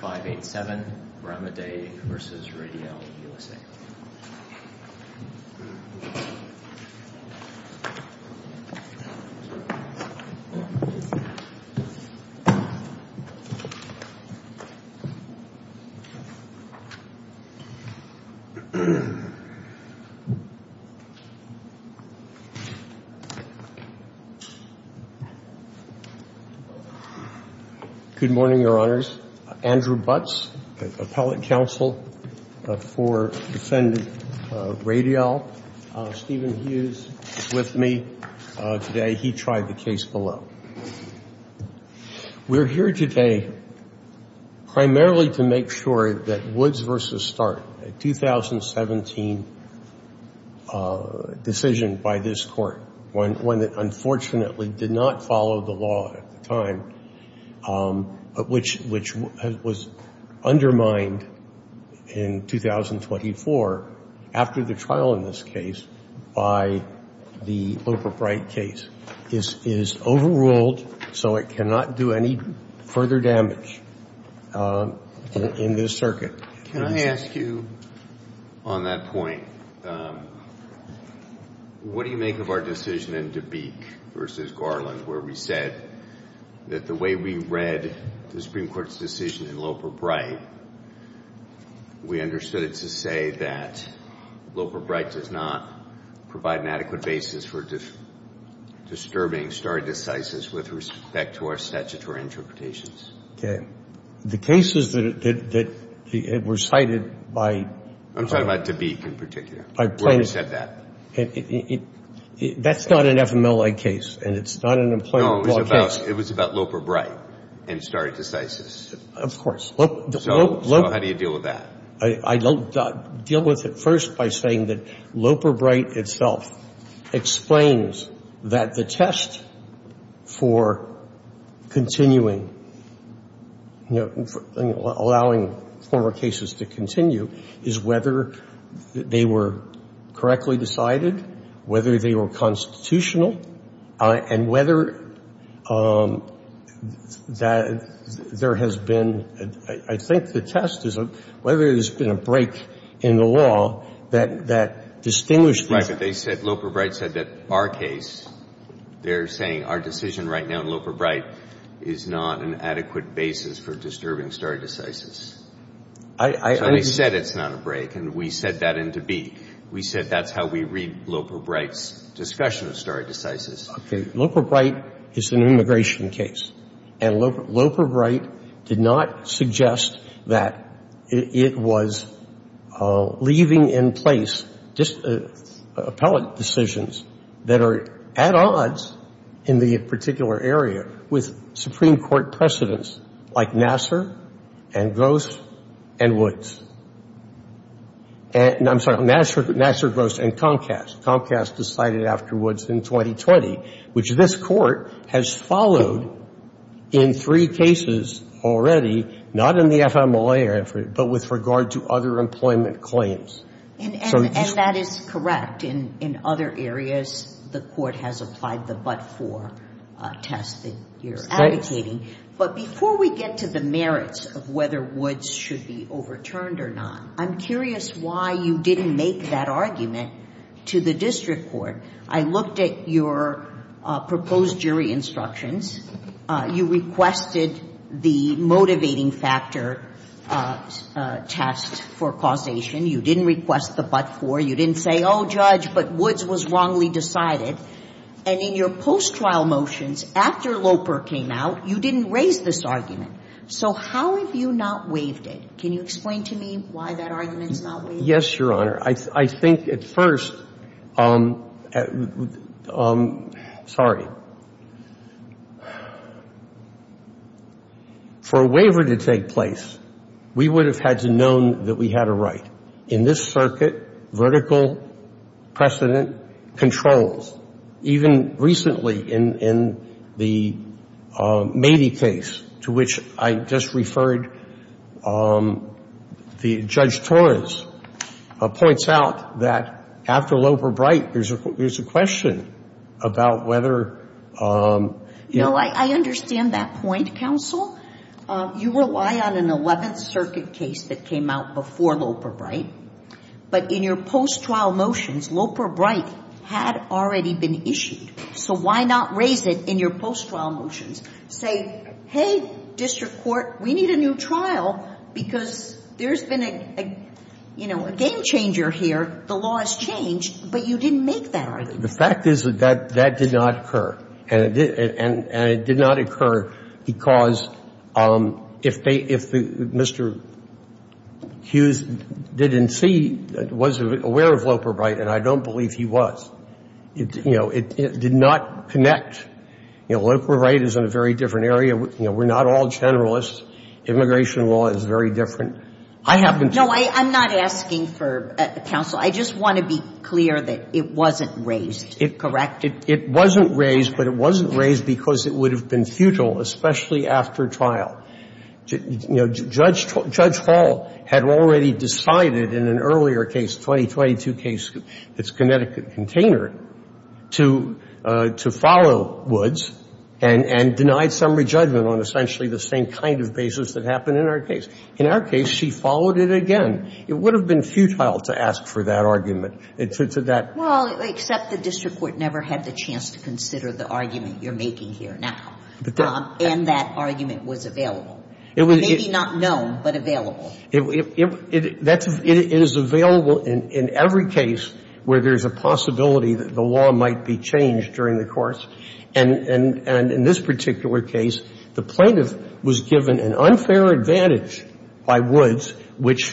587 Ramadei v. Radiall USA. Good morning, Your Honors. Andrew Butz, appellate counsel for defendant Radiall. Stephen Hughes is with me today. He tried the case below. We're here today primarily to make sure that Woods v. Start, a 2017 decision by this court, one that unfortunately did not follow the law at the time, which was undermined in 2024, after the trial in this case, by the Looper-Bright case. It is overruled, so it cannot do any further damage in this circuit. Can I ask you, on that point, what do you make of our decision in DeBeek v. Garland, where we said that the way we read the Supreme Court's decision in Looper-Bright, we understood it to say that Looper-Bright does not provide an adequate basis for disturbing stare decisis with respect to our statutory interpretations? The cases that were cited by... I'm talking about DeBeek in particular, where we said that. That's not an FMLA case, and it's not an employment law case. No, it was about Looper-Bright and stare decisis. Of course. So how do you deal with that? I don't deal with it first by saying that Looper-Bright itself explains that the test for continuing, allowing former cases to continue, is whether they were correctly decided, whether they were constitutional, and whether there has been... I think the test is whether there's been a break in the law that distinguished... Right, but they said Looper-Bright said that our case, they're saying our decision right now in Looper-Bright is not an adequate basis for disturbing stare decisis. I... So they said it's not a break, and we said that in DeBeek. We said that's how we read Looper-Bright's discussion of stare decisis. Okay. Looper-Bright is an immigration case, and Looper-Bright did not suggest that it was leaving in place appellate decisions that are at odds in the particular area with Supreme Court precedents like Nassar and Gross and Woods. And I'm sorry, Nassar, Gross, and Comcast. Comcast decided afterwards in 2020, which this Court has followed in three cases already, not in the FMLA effort, but with regard to other employment claims. And that is correct. In other areas, the Court has applied the but-for test that you're advocating. But before we get to the merits of whether Woods should be overturned or not, I'm curious why you didn't make that argument to the district court. I looked at your proposed jury instructions. You requested the motivating factor test for causation. You didn't request the but-for. You didn't say, oh, Judge, but Woods was wrongly decided. And in your post-trial motions, after Looper came out, you didn't raise this argument. So how have you not waived it? Can you explain to me why that argument is not waived? Yes, Your Honor. I think at first, sorry, for a waiver to take place, we would have had to have known that we had a right. In this circuit, vertical precedent controls. Even recently, in the Mady case, to which I just referred, Judge Torres points out that after Looper-Bright, there's a question about whether you know. I understand that point, counsel. You rely on an 11th Circuit case that came out before Looper-Bright. But in your post-trial motions, Looper-Bright had already been issued. So why not raise it in your post-trial motions? Say, hey, district court, we need a new trial because there's been a game changer here. The law has changed. But you didn't make that argument. The fact is that that did not occur. And it did not occur because if Mr. Hughes didn't see, wasn't aware of Looper-Bright, and I don't believe he was, it did not connect. Looper-Bright is in a very different area. We're not all generalists. Immigration law is very different. No, I'm not asking for counsel. I just want to be clear that it wasn't raised. Correct? It wasn't raised, but it wasn't raised because it would have been futile, especially after trial. You know, Judge Hall had already decided in an earlier case, 2022 case, it's Connecticut Container, to follow Woods and denied summary judgment on essentially the same kind of basis that happened in our case. In our case, she followed it again. It would have been futile to ask for that argument. Well, except the district court never had the chance to consider the argument you're making here now. And that argument was available. Maybe not known, but available. It is available in every case where there's a possibility that the law might be changed during the course. And in this particular case, the plaintiff was given an unfair advantage by Woods, which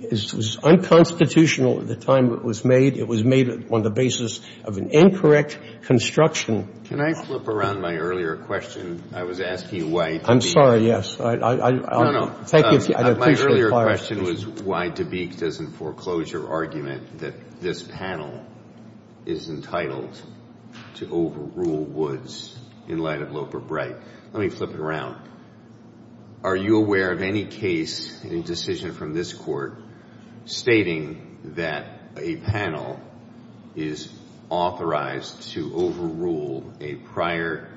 is unconstitutional at the time it was made. It was made on the basis of an incorrect construction. Can I flip around my earlier question? I was asking why. I'm sorry. No, no. Thank you. My earlier question was why DeBeek doesn't foreclose your argument that this panel is entitled to overrule Woods in light of Loper Bright. Let me flip it around. Are you aware of any case in a decision from this Court stating that a panel is authorized to overrule a prior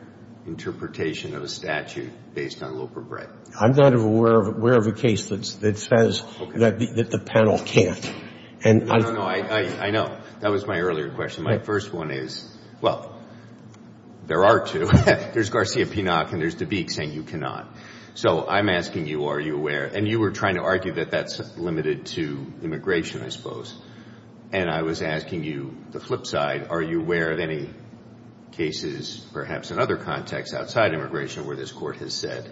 interpretation of a statute based on Loper Bright? I'm not aware of a case that says that the panel can't. No, no, no. I know. That was my earlier question. My first one is, well, there are two. There's Garcia-Pinnock and there's DeBeek saying you cannot. So I'm asking you, are you aware? And you were trying to argue that that's limited to immigration, I suppose. And I was asking you the flip side. Are you aware of any cases perhaps in other contexts outside immigration where this Court has said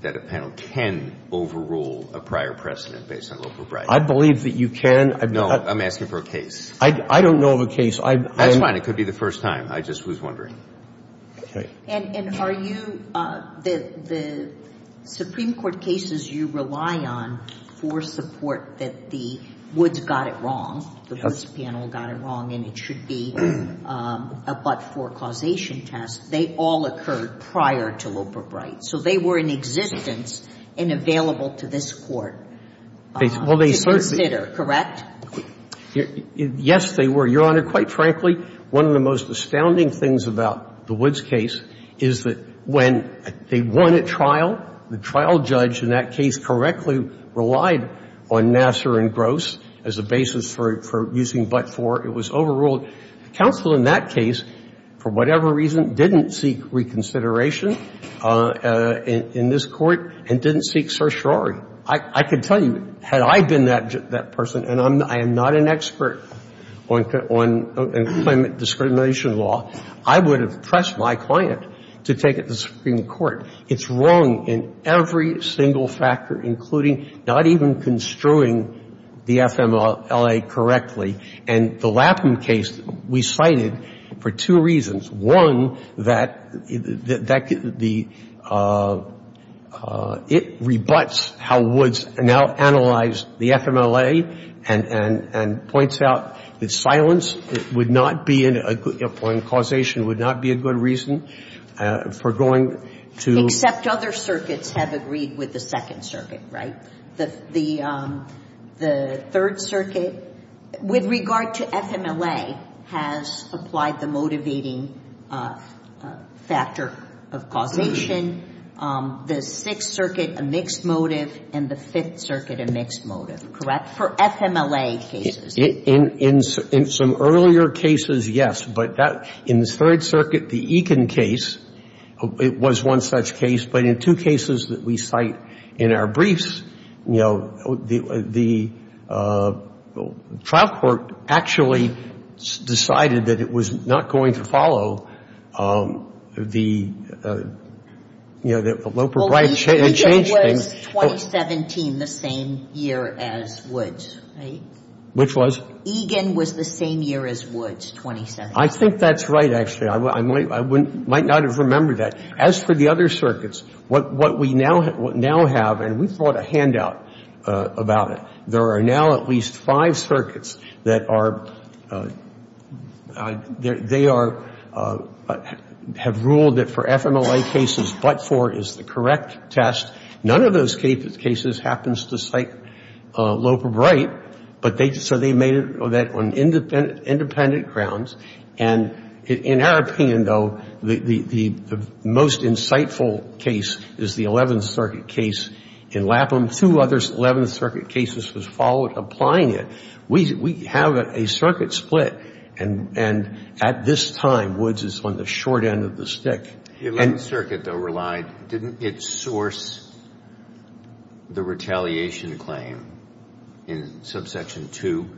that a panel can overrule a prior precedent based on Loper Bright? I believe that you can. No. I'm asking for a case. I don't know of a case. That's fine. It could be the first time. I just was wondering. And are you the Supreme Court cases you rely on for support that the Woods got it wrong, the Woods panel got it wrong, and it should be a but-for causation test, they all occurred prior to Loper Bright. So they were in existence and available to this Court to consider, correct? Yes, they were, Your Honor. Your Honor, quite frankly, one of the most astounding things about the Woods case is that when they won at trial, the trial judge in that case correctly relied on Nasser and Gross as a basis for using but-for. It was overruled. The counsel in that case, for whatever reason, didn't seek reconsideration in this Court and didn't seek certiorari. I could tell you, had I been that person, and I am not an expert on climate discrimination law, I would have pressed my client to take it to the Supreme Court. It's wrong in every single factor, including not even construing the FMLA correctly. And the Lapham case, we cited for two reasons. One, that the – it rebuts how Woods now analyzed the FMLA and points out that silence would not be a good – or causation would not be a good reason for going to – Except other circuits have agreed with the Second Circuit, right? The Third Circuit, with regard to FMLA, has applied the motivating factor of causation. The Sixth Circuit, a mixed motive. And the Fifth Circuit, a mixed motive. Correct? For FMLA cases. In some earlier cases, yes. But in the Third Circuit, the Eakin case, it was one such case. But in two cases that we cite in our briefs, you know, the trial court actually decided that it was not going to follow the, you know, the Loper-Bride change thing. Well, Eakin was 2017, the same year as Woods, right? Which was? Eakin was the same year as Woods, 2017. I think that's right, actually. I might not have remembered that. As for the other circuits, what we now have, and we've brought a handout about it, there are now at least five circuits that are – they are – have ruled that for FMLA cases, but-for is the correct test. None of those cases happens to cite Loper-Bride, but they – so they made that on independent grounds. And in our opinion, though, the most insightful case is the Eleventh Circuit case in Lapham. Two other Eleventh Circuit cases was followed applying it. We have a circuit split, and at this time, Woods is on the short end of the stick. The Eleventh Circuit, though, relied – didn't it source the retaliation claim in Subsection 2,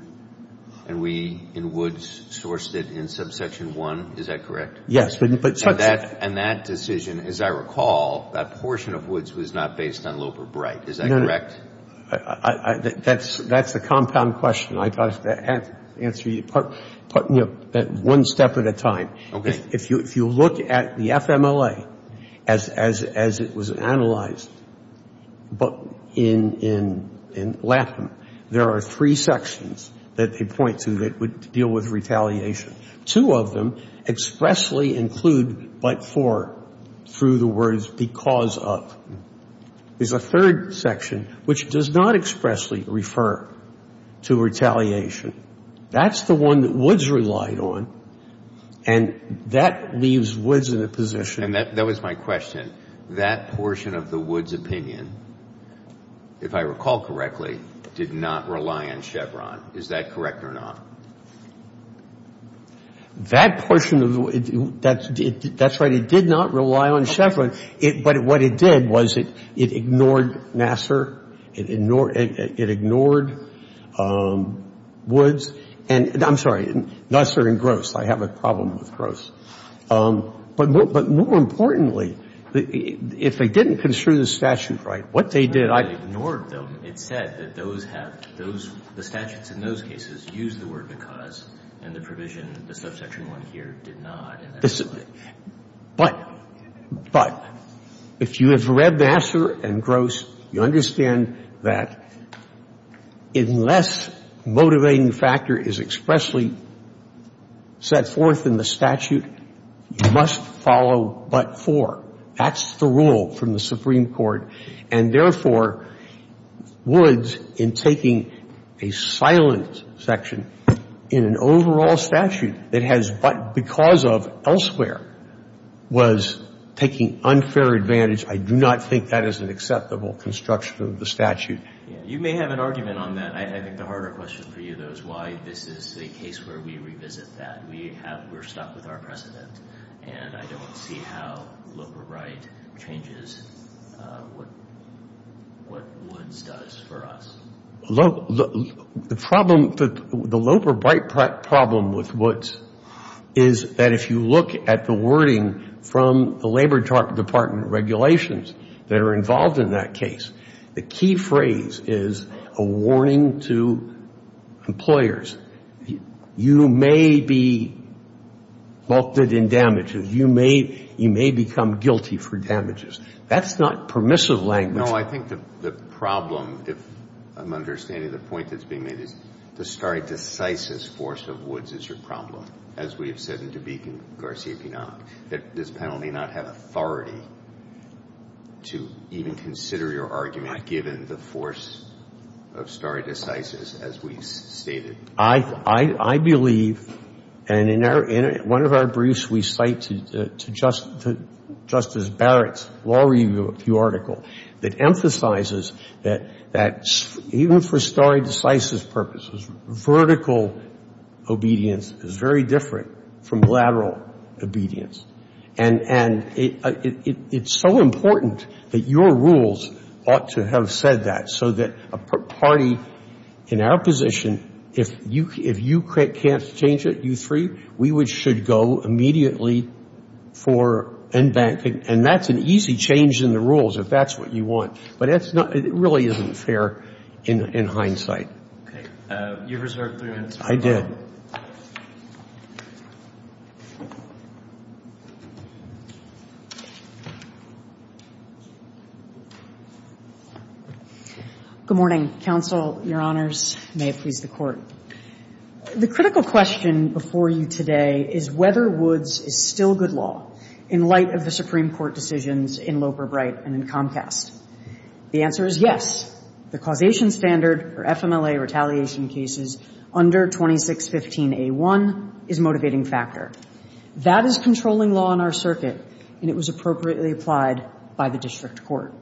and we, in Woods, sourced it in Subsection 1? Is that correct? Yes, but- And that decision, as I recall, that portion of Woods was not based on Loper-Bride. Is that correct? No. That's the compound question. I have to answer you part – you know, one step at a time. Okay. If you look at the FMLA as it was analyzed in Lapham, there are three sections that they point to that deal with retaliation. Two of them expressly include but-for through the words because of. There's a third section which does not expressly refer to retaliation. That's the one that Woods relied on, and that leaves Woods in a position- And that was my question. That portion of the Woods opinion, if I recall correctly, did not rely on Chevron. Is that correct or not? That portion of the – that's right. It did not rely on Chevron. But what it did was it ignored Nassar. It ignored Woods. And I'm sorry, Nassar and Gross. I have a problem with Gross. But more importantly, if they didn't construe the statute right, what they did- It ignored them. It said that those have – the statutes in those cases use the word because and the provision, the subsection 1 here, did not. But if you have read Nassar and Gross, you understand that unless motivating factor is expressly set forth in the statute, you must follow but-for. That's the rule from the Supreme Court. And therefore, Woods, in taking a silent section in an overall statute that has but because of elsewhere, was taking unfair advantage. I do not think that is an acceptable construction of the statute. You may have an argument on that. I think the harder question for you, though, is why this is a case where we revisit that. We have – we're stuck with our precedent. And I don't see how Loeb or Bright changes what Woods does for us. The problem – the Loeb or Bright problem with Woods is that if you look at the wording from the Labor Department regulations that are involved in that case, the key phrase is a warning to employers. You may be vaulted in damages. You may become guilty for damages. That's not permissive language. No, I think the problem, if I'm understanding the point that's being made, is the stare decisis force of Woods is your problem, as we have said in DeBake and Garcia-Pinot, that this panel may not have authority to even consider your argument given the force of stare decisis, as we've stated. I believe, and in our – in one of our briefs, we cite to Justice Barrett's law review article that emphasizes that even for stare decisis purposes, vertical obedience is very different from lateral obedience. And it's so important that your rules ought to have said that so that a party in our position, if you can't change it, you three, we should go immediately for unbanking. And that's an easy change in the rules if that's what you want. But that's not – it really isn't fair in hindsight. Okay. You reserved three minutes. I did. Good morning, counsel, Your Honors. May it please the Court. The critical question before you today is whether Woods is still good law in light of the Supreme Court decisions in Loper-Bright and in Comcast. The answer is yes. The causation standard for FMLA retaliation cases under 2615a1 is a motivating factor. That is controlling law in our circuit, and it was appropriately applied by the district court.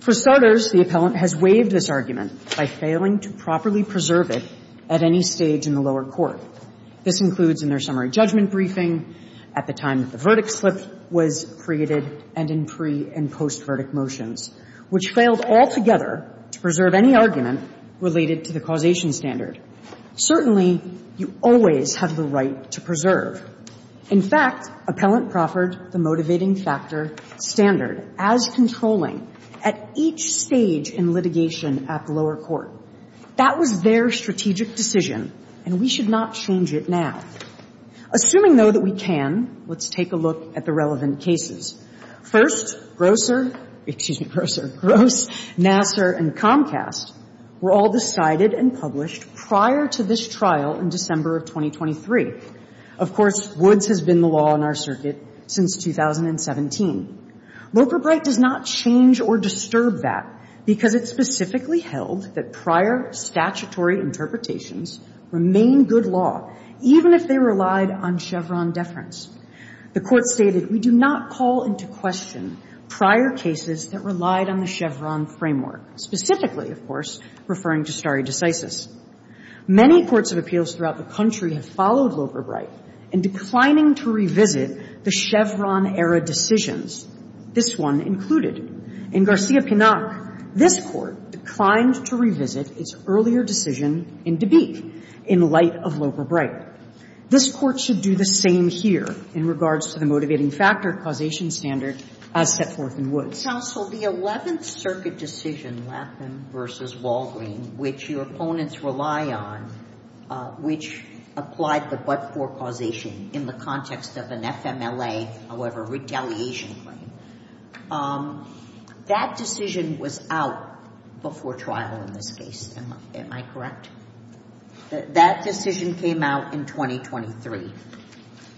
For starters, the appellant has waived this argument by failing to properly preserve it at any stage in the lower court. This includes in their summary judgment briefing, at the time that the verdict slip was created, and in pre- and post-verdict motions, which failed altogether to preserve any argument related to the causation standard. Certainly, you always have the right to preserve. In fact, appellant proffered the motivating factor standard as controlling at each stage in litigation at the lower court. That was their strategic decision, and we should not change it now. Assuming, though, that we can, let's take a look at the relevant cases. First, Grosser — excuse me, Grosser — Gross, Nassar, and Comcast were all decided and published prior to this trial in December of 2023. Of course, Woods has been the law in our circuit since 2017. Loper-Bright does not change or disturb that because it specifically held that prior statutory interpretations remain good law, even if they relied on Chevron deference. The Court stated, we do not call into question prior cases that relied on the Chevron framework, specifically, of course, referring to stare decisis. Many courts of appeals throughout the country have followed Loper-Bright in declining to revisit the Chevron-era decisions, this one included. In Garcia-Pinnock, this Court declined to revisit its earlier decision in DeBeek in light of Loper-Bright. This Court should do the same here in regards to the motivating factor causation standard as set forth in Woods. Sotomayor, I would like to ask you about the case of the 11th Circuit decision, Latham v. Walgreen, which your opponents rely on, which applied the but-for causation in the context of an FMLA, however, retaliation claim. That decision was out before trial in this case, am I correct? That decision came out in 2023.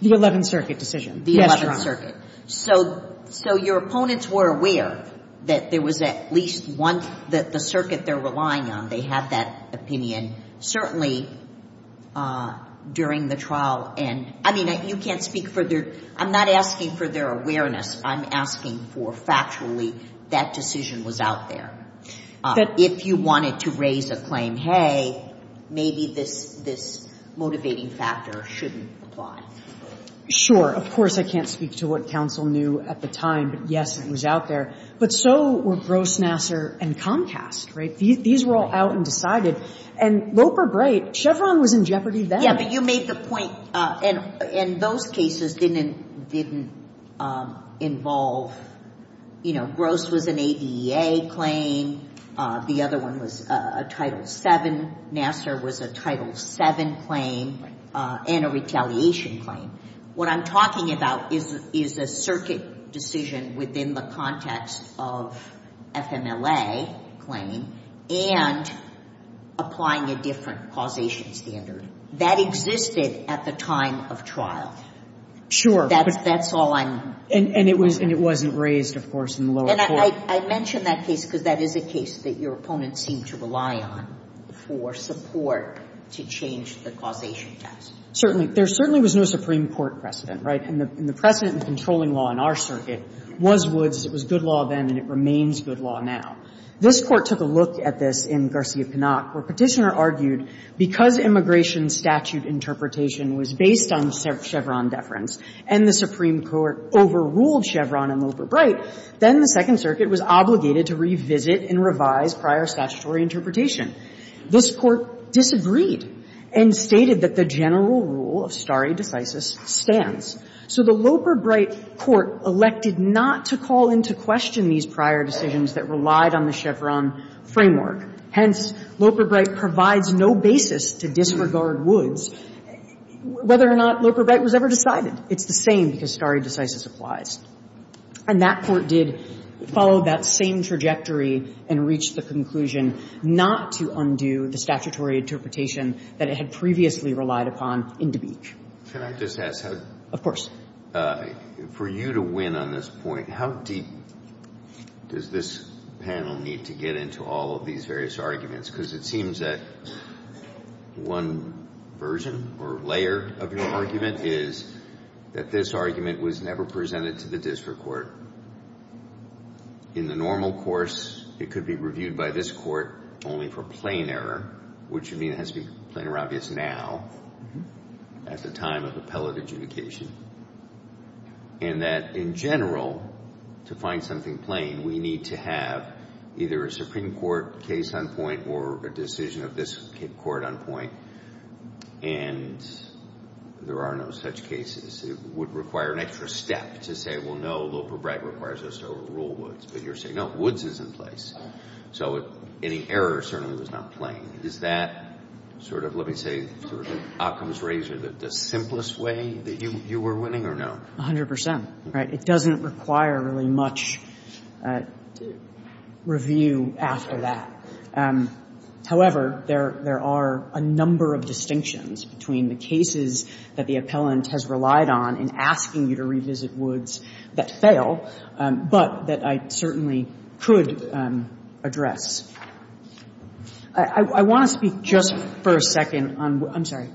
The 11th Circuit decision. Yes, Your Honor. The 11th Circuit. So your opponents were aware that there was at least one, that the circuit they're relying on, they had that opinion. Certainly, during the trial and, I mean, you can't speak for their, I'm not asking for their awareness. I'm asking for factually that decision was out there. If you wanted to raise a claim, hey, maybe this motivating factor shouldn't apply. Sure. Of course, I can't speak to what counsel knew at the time. But, yes, it was out there. But so were Gross, Nassar, and Comcast, right? These were all out and decided. And Loper, great. Chevron was in jeopardy then. Yeah, but you made the point. And those cases didn't involve, you know, Gross was an ADA claim. The other one was a Title VII. Nassar was a Title VII claim and a retaliation claim. What I'm talking about is a circuit decision within the context of FMLA claim and applying a different causation standard. That existed at the time of trial. Sure. That's all I'm questioning. And it wasn't raised, of course, in the lower court. And I mentioned that case because that is a case that your opponents seem to rely on for support to change the causation test. Certainly. There certainly was no Supreme Court precedent, right? And the precedent in controlling law in our circuit was Woods. It was good law then, and it remains good law now. This Court took a look at this in Garcia-Cannock, where Petitioner argued because immigration statute interpretation was based on Chevron deference and the Supreme Court in the Second Circuit was obligated to revisit and revise prior statutory interpretation. This Court disagreed and stated that the general rule of stare decisis stands. So the Loper-Bright Court elected not to call into question these prior decisions that relied on the Chevron framework. Hence, Loper-Bright provides no basis to disregard Woods, whether or not Loper-Bright was ever decided. It's the same because stare decisis applies. And that Court did follow that same trajectory and reached the conclusion not to undo the statutory interpretation that it had previously relied upon in DeBeech. Can I just ask how? Of course. For you to win on this point, how deep does this panel need to get into all of these various arguments? Because it seems that one version or layer of your argument is that this argument was never presented to the district court. In the normal course, it could be reviewed by this Court only for plain error, which would mean it has to be plain or obvious now at the time of appellate adjudication. And that in general, to find something plain, we need to have either a Supreme Court case on point or a decision of this Court on point. And there are no such cases. It would require an extra step to say, well, no, Loper-Bright requires us to rule Woods. But you're saying, no, Woods is in place. So any error certainly was not plain. Is that sort of, let me say, sort of an Occam's razor, the simplest way that you were winning or no? A hundred percent, right? It doesn't require really much review after that. However, there are a number of distinctions between the cases that the appellant has relied on in asking you to revisit Woods that fail, but that I certainly could address. I want to speak just for a second on the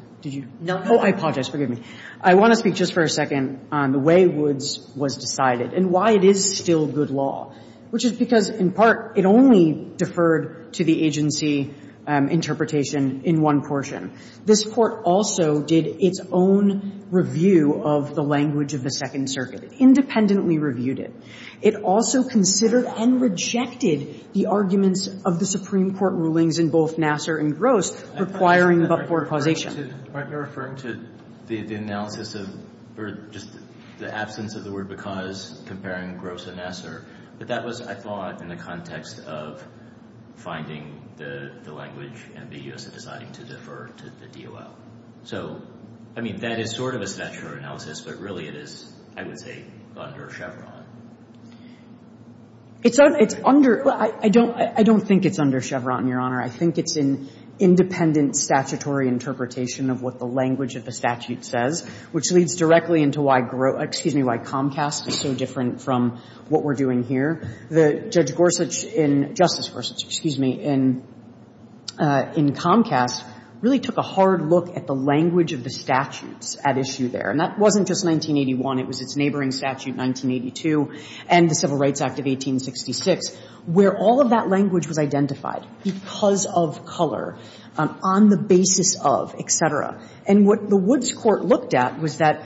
way Woods was decided and why it is still good law, which is because, in part, it only deferred to the agency interpretation in one portion. This Court also did its own review of the language of the Second Circuit. It independently reviewed it. It also considered and rejected the arguments of the Supreme Court rulings in both Nassar and Gross requiring but-for causation. Aren't you referring to the analysis of just the absence of the word because comparing Gross and Nassar? But that was, I thought, in the context of finding the language and the U.S. deciding to defer to the DOL. So, I mean, that is sort of a statutory analysis, but really it is, I would say, under Chevron. It's under. I don't think it's under Chevron, Your Honor. I think it's an independent statutory interpretation of what the language of the statute says, which leads directly into why Comcast is so different from what we're doing here. The judge Gorsuch in Justice Gorsuch, excuse me, in Comcast really took a hard look at the language of the statutes at issue there. And that wasn't just 1981. It was its neighboring statute, 1982, and the Civil Rights Act of 1866, where all of that language was identified because of color, on the basis of, et cetera. And what the Woods Court looked at was that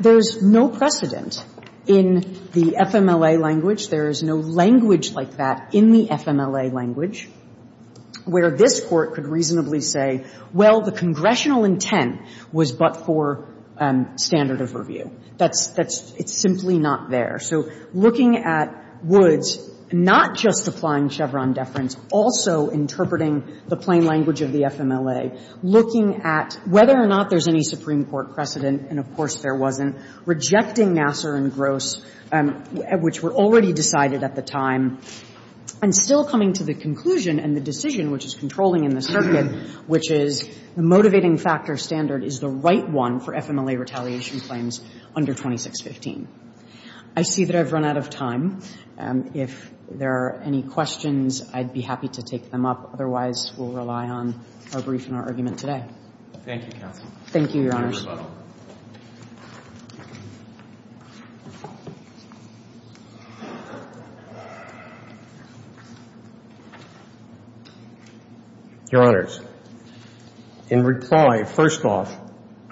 there's no precedent in the FMLA language. There is no language like that in the FMLA language where this Court could reasonably say, well, the congressional intent was but for standard of review. That's – that's – it's simply not there. So looking at Woods, not just applying Chevron deference, also interpreting the plain language of the FMLA, looking at whether or not there's any Supreme Court decision that would be in the circuit, which is the motivating factor standard is the right one for FMLA retaliation claims under 2615. I see that I've run out of time. If there are any questions, I'd be happy to take them up. Otherwise, we'll rely on our brief and our argument today. Thank you, counsel. Thank you, Your Honor. Your Honor, in reply, first off,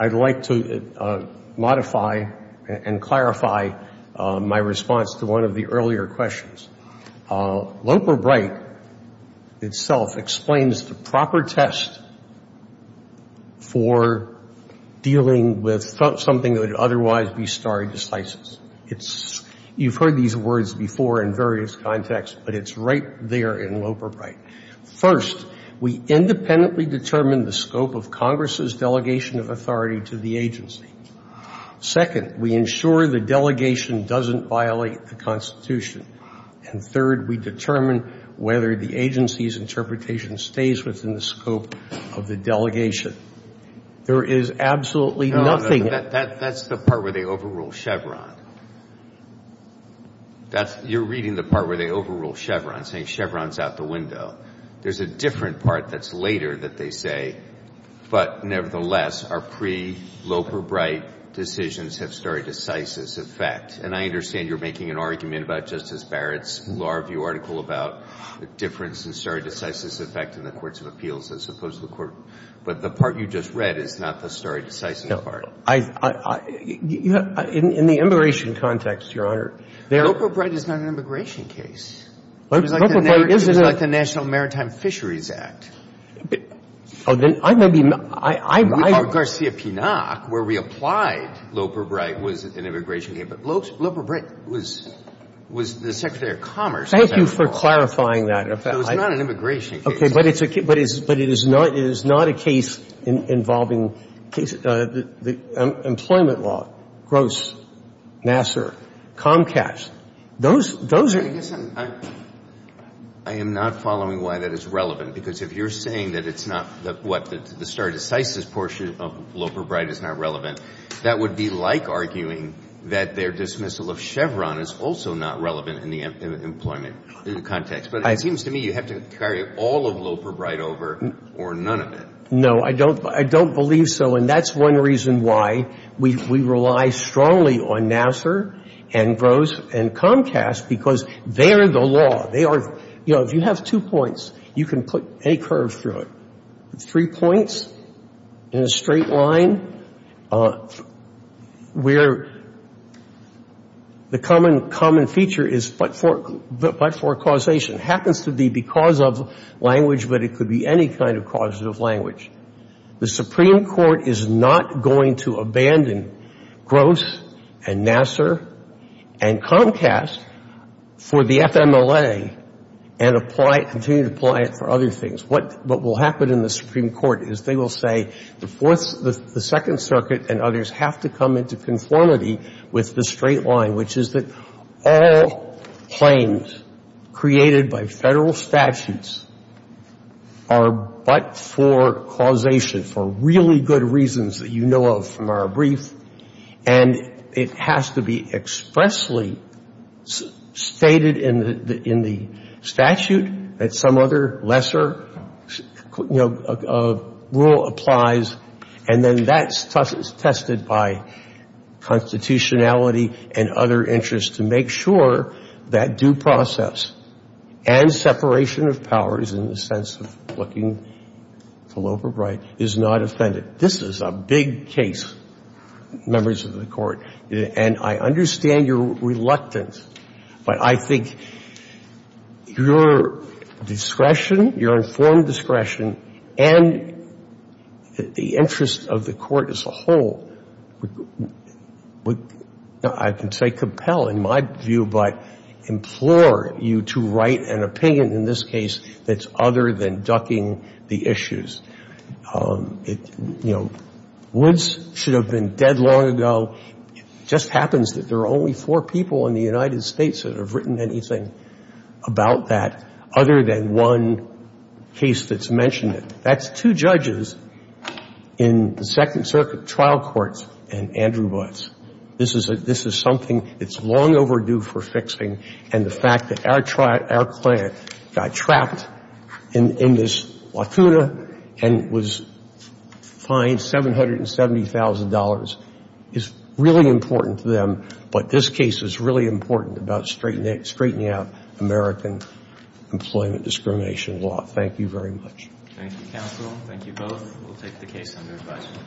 I'd like to modify and clarify my response to one of the earlier questions. Loper-Bright itself explains the proper test for dealing with something that would otherwise be stare decisis. It's – you've heard these words before in various contexts, but it's right there in Loper-Bright. First, we independently determine the scope of Congress's delegation of authority to the agency. Second, we ensure the delegation doesn't violate the Constitution. And third, we determine whether the agency's interpretation stays within the scope of the delegation. There is absolutely nothing – No, no, that's the part where they overrule Chevron. That's – you're reading the part where they overrule Chevron, saying Chevron's out the window. There's a different part that's later that they say, but nevertheless, our pre-Loper-Bright decisions have stare decisis effect. And I understand you're making an argument about Justice Barrett's Law Review article about the difference in stare decisis effect in the courts of appeals as opposed to the court – but the part you just read is not the stare decisis part. No, I – in the immigration context, Your Honor, there are – Loper-Bright is not an immigration case. Loper-Bright isn't a – It was like the National Maritime Fisheries Act. Oh, then I may be – I – We called Garcia-Pinock, where we applied Loper-Bright, was an immigration case. But Loper-Bright was the Secretary of Commerce. Thank you for clarifying that. It was not an immigration case. Okay, but it's – but it is not a case involving – employment law, Gross, Nassar, Comcast. Those are – I guess I'm – I am not following why that is relevant. Because if you're saying that it's not the – what, the stare decisis portion of Loper-Bright is not relevant, that would be like arguing that their dismissal of Chevron is also not relevant in the employment context. But it seems to me you have to carry all of Loper-Bright over or none of it. No, I don't – I don't believe so. And that's one reason why we rely strongly on Nassar and Gross and Comcast, because they're the law. They are – you know, if you have two points, you can put any curve through it. Three points in a straight line, we're – the common feature is but for causation. It happens to be because of language, but it could be any kind of causative language. The Supreme Court is not going to abandon Gross and Nassar and Comcast for the FMLA and apply – continue to apply it for other things. What will happen in the Supreme Court is they will say the Fourth – the Second Circuit and others have to come into conformity with the straight line, which is that all claims created by Federal statutes are but for causation, for really good reasons that you know of from our brief. And it has to be expressly stated in the statute that some other lesser rule applies. And then that's tested by constitutionality and other interests to make sure that due process and separation of powers in the sense of looking full overbrite is not offended. This is a big case, members of the Court, and I understand your reluctance, but I think your discretion, your informed discretion, and the interest of the Court as a whole would, I can say, compel in my view, but implore you to write an opinion in this case that's other than ducking the issues. You know, Woods should have been dead long ago. It just happens that there are only four people in the United States that have written anything about that other than one case that's mentioned it. That's two judges in the Second Circuit trial courts and Andrew Woods. This is something that's long overdue for fixing, and the fact that our client got trapped in this lacuna and was fined $770,000 is really important to them, but this case is really important about straightening out American employment discrimination law. Thank you very much. Thank you, counsel. Thank you both. We'll take the case under advisement.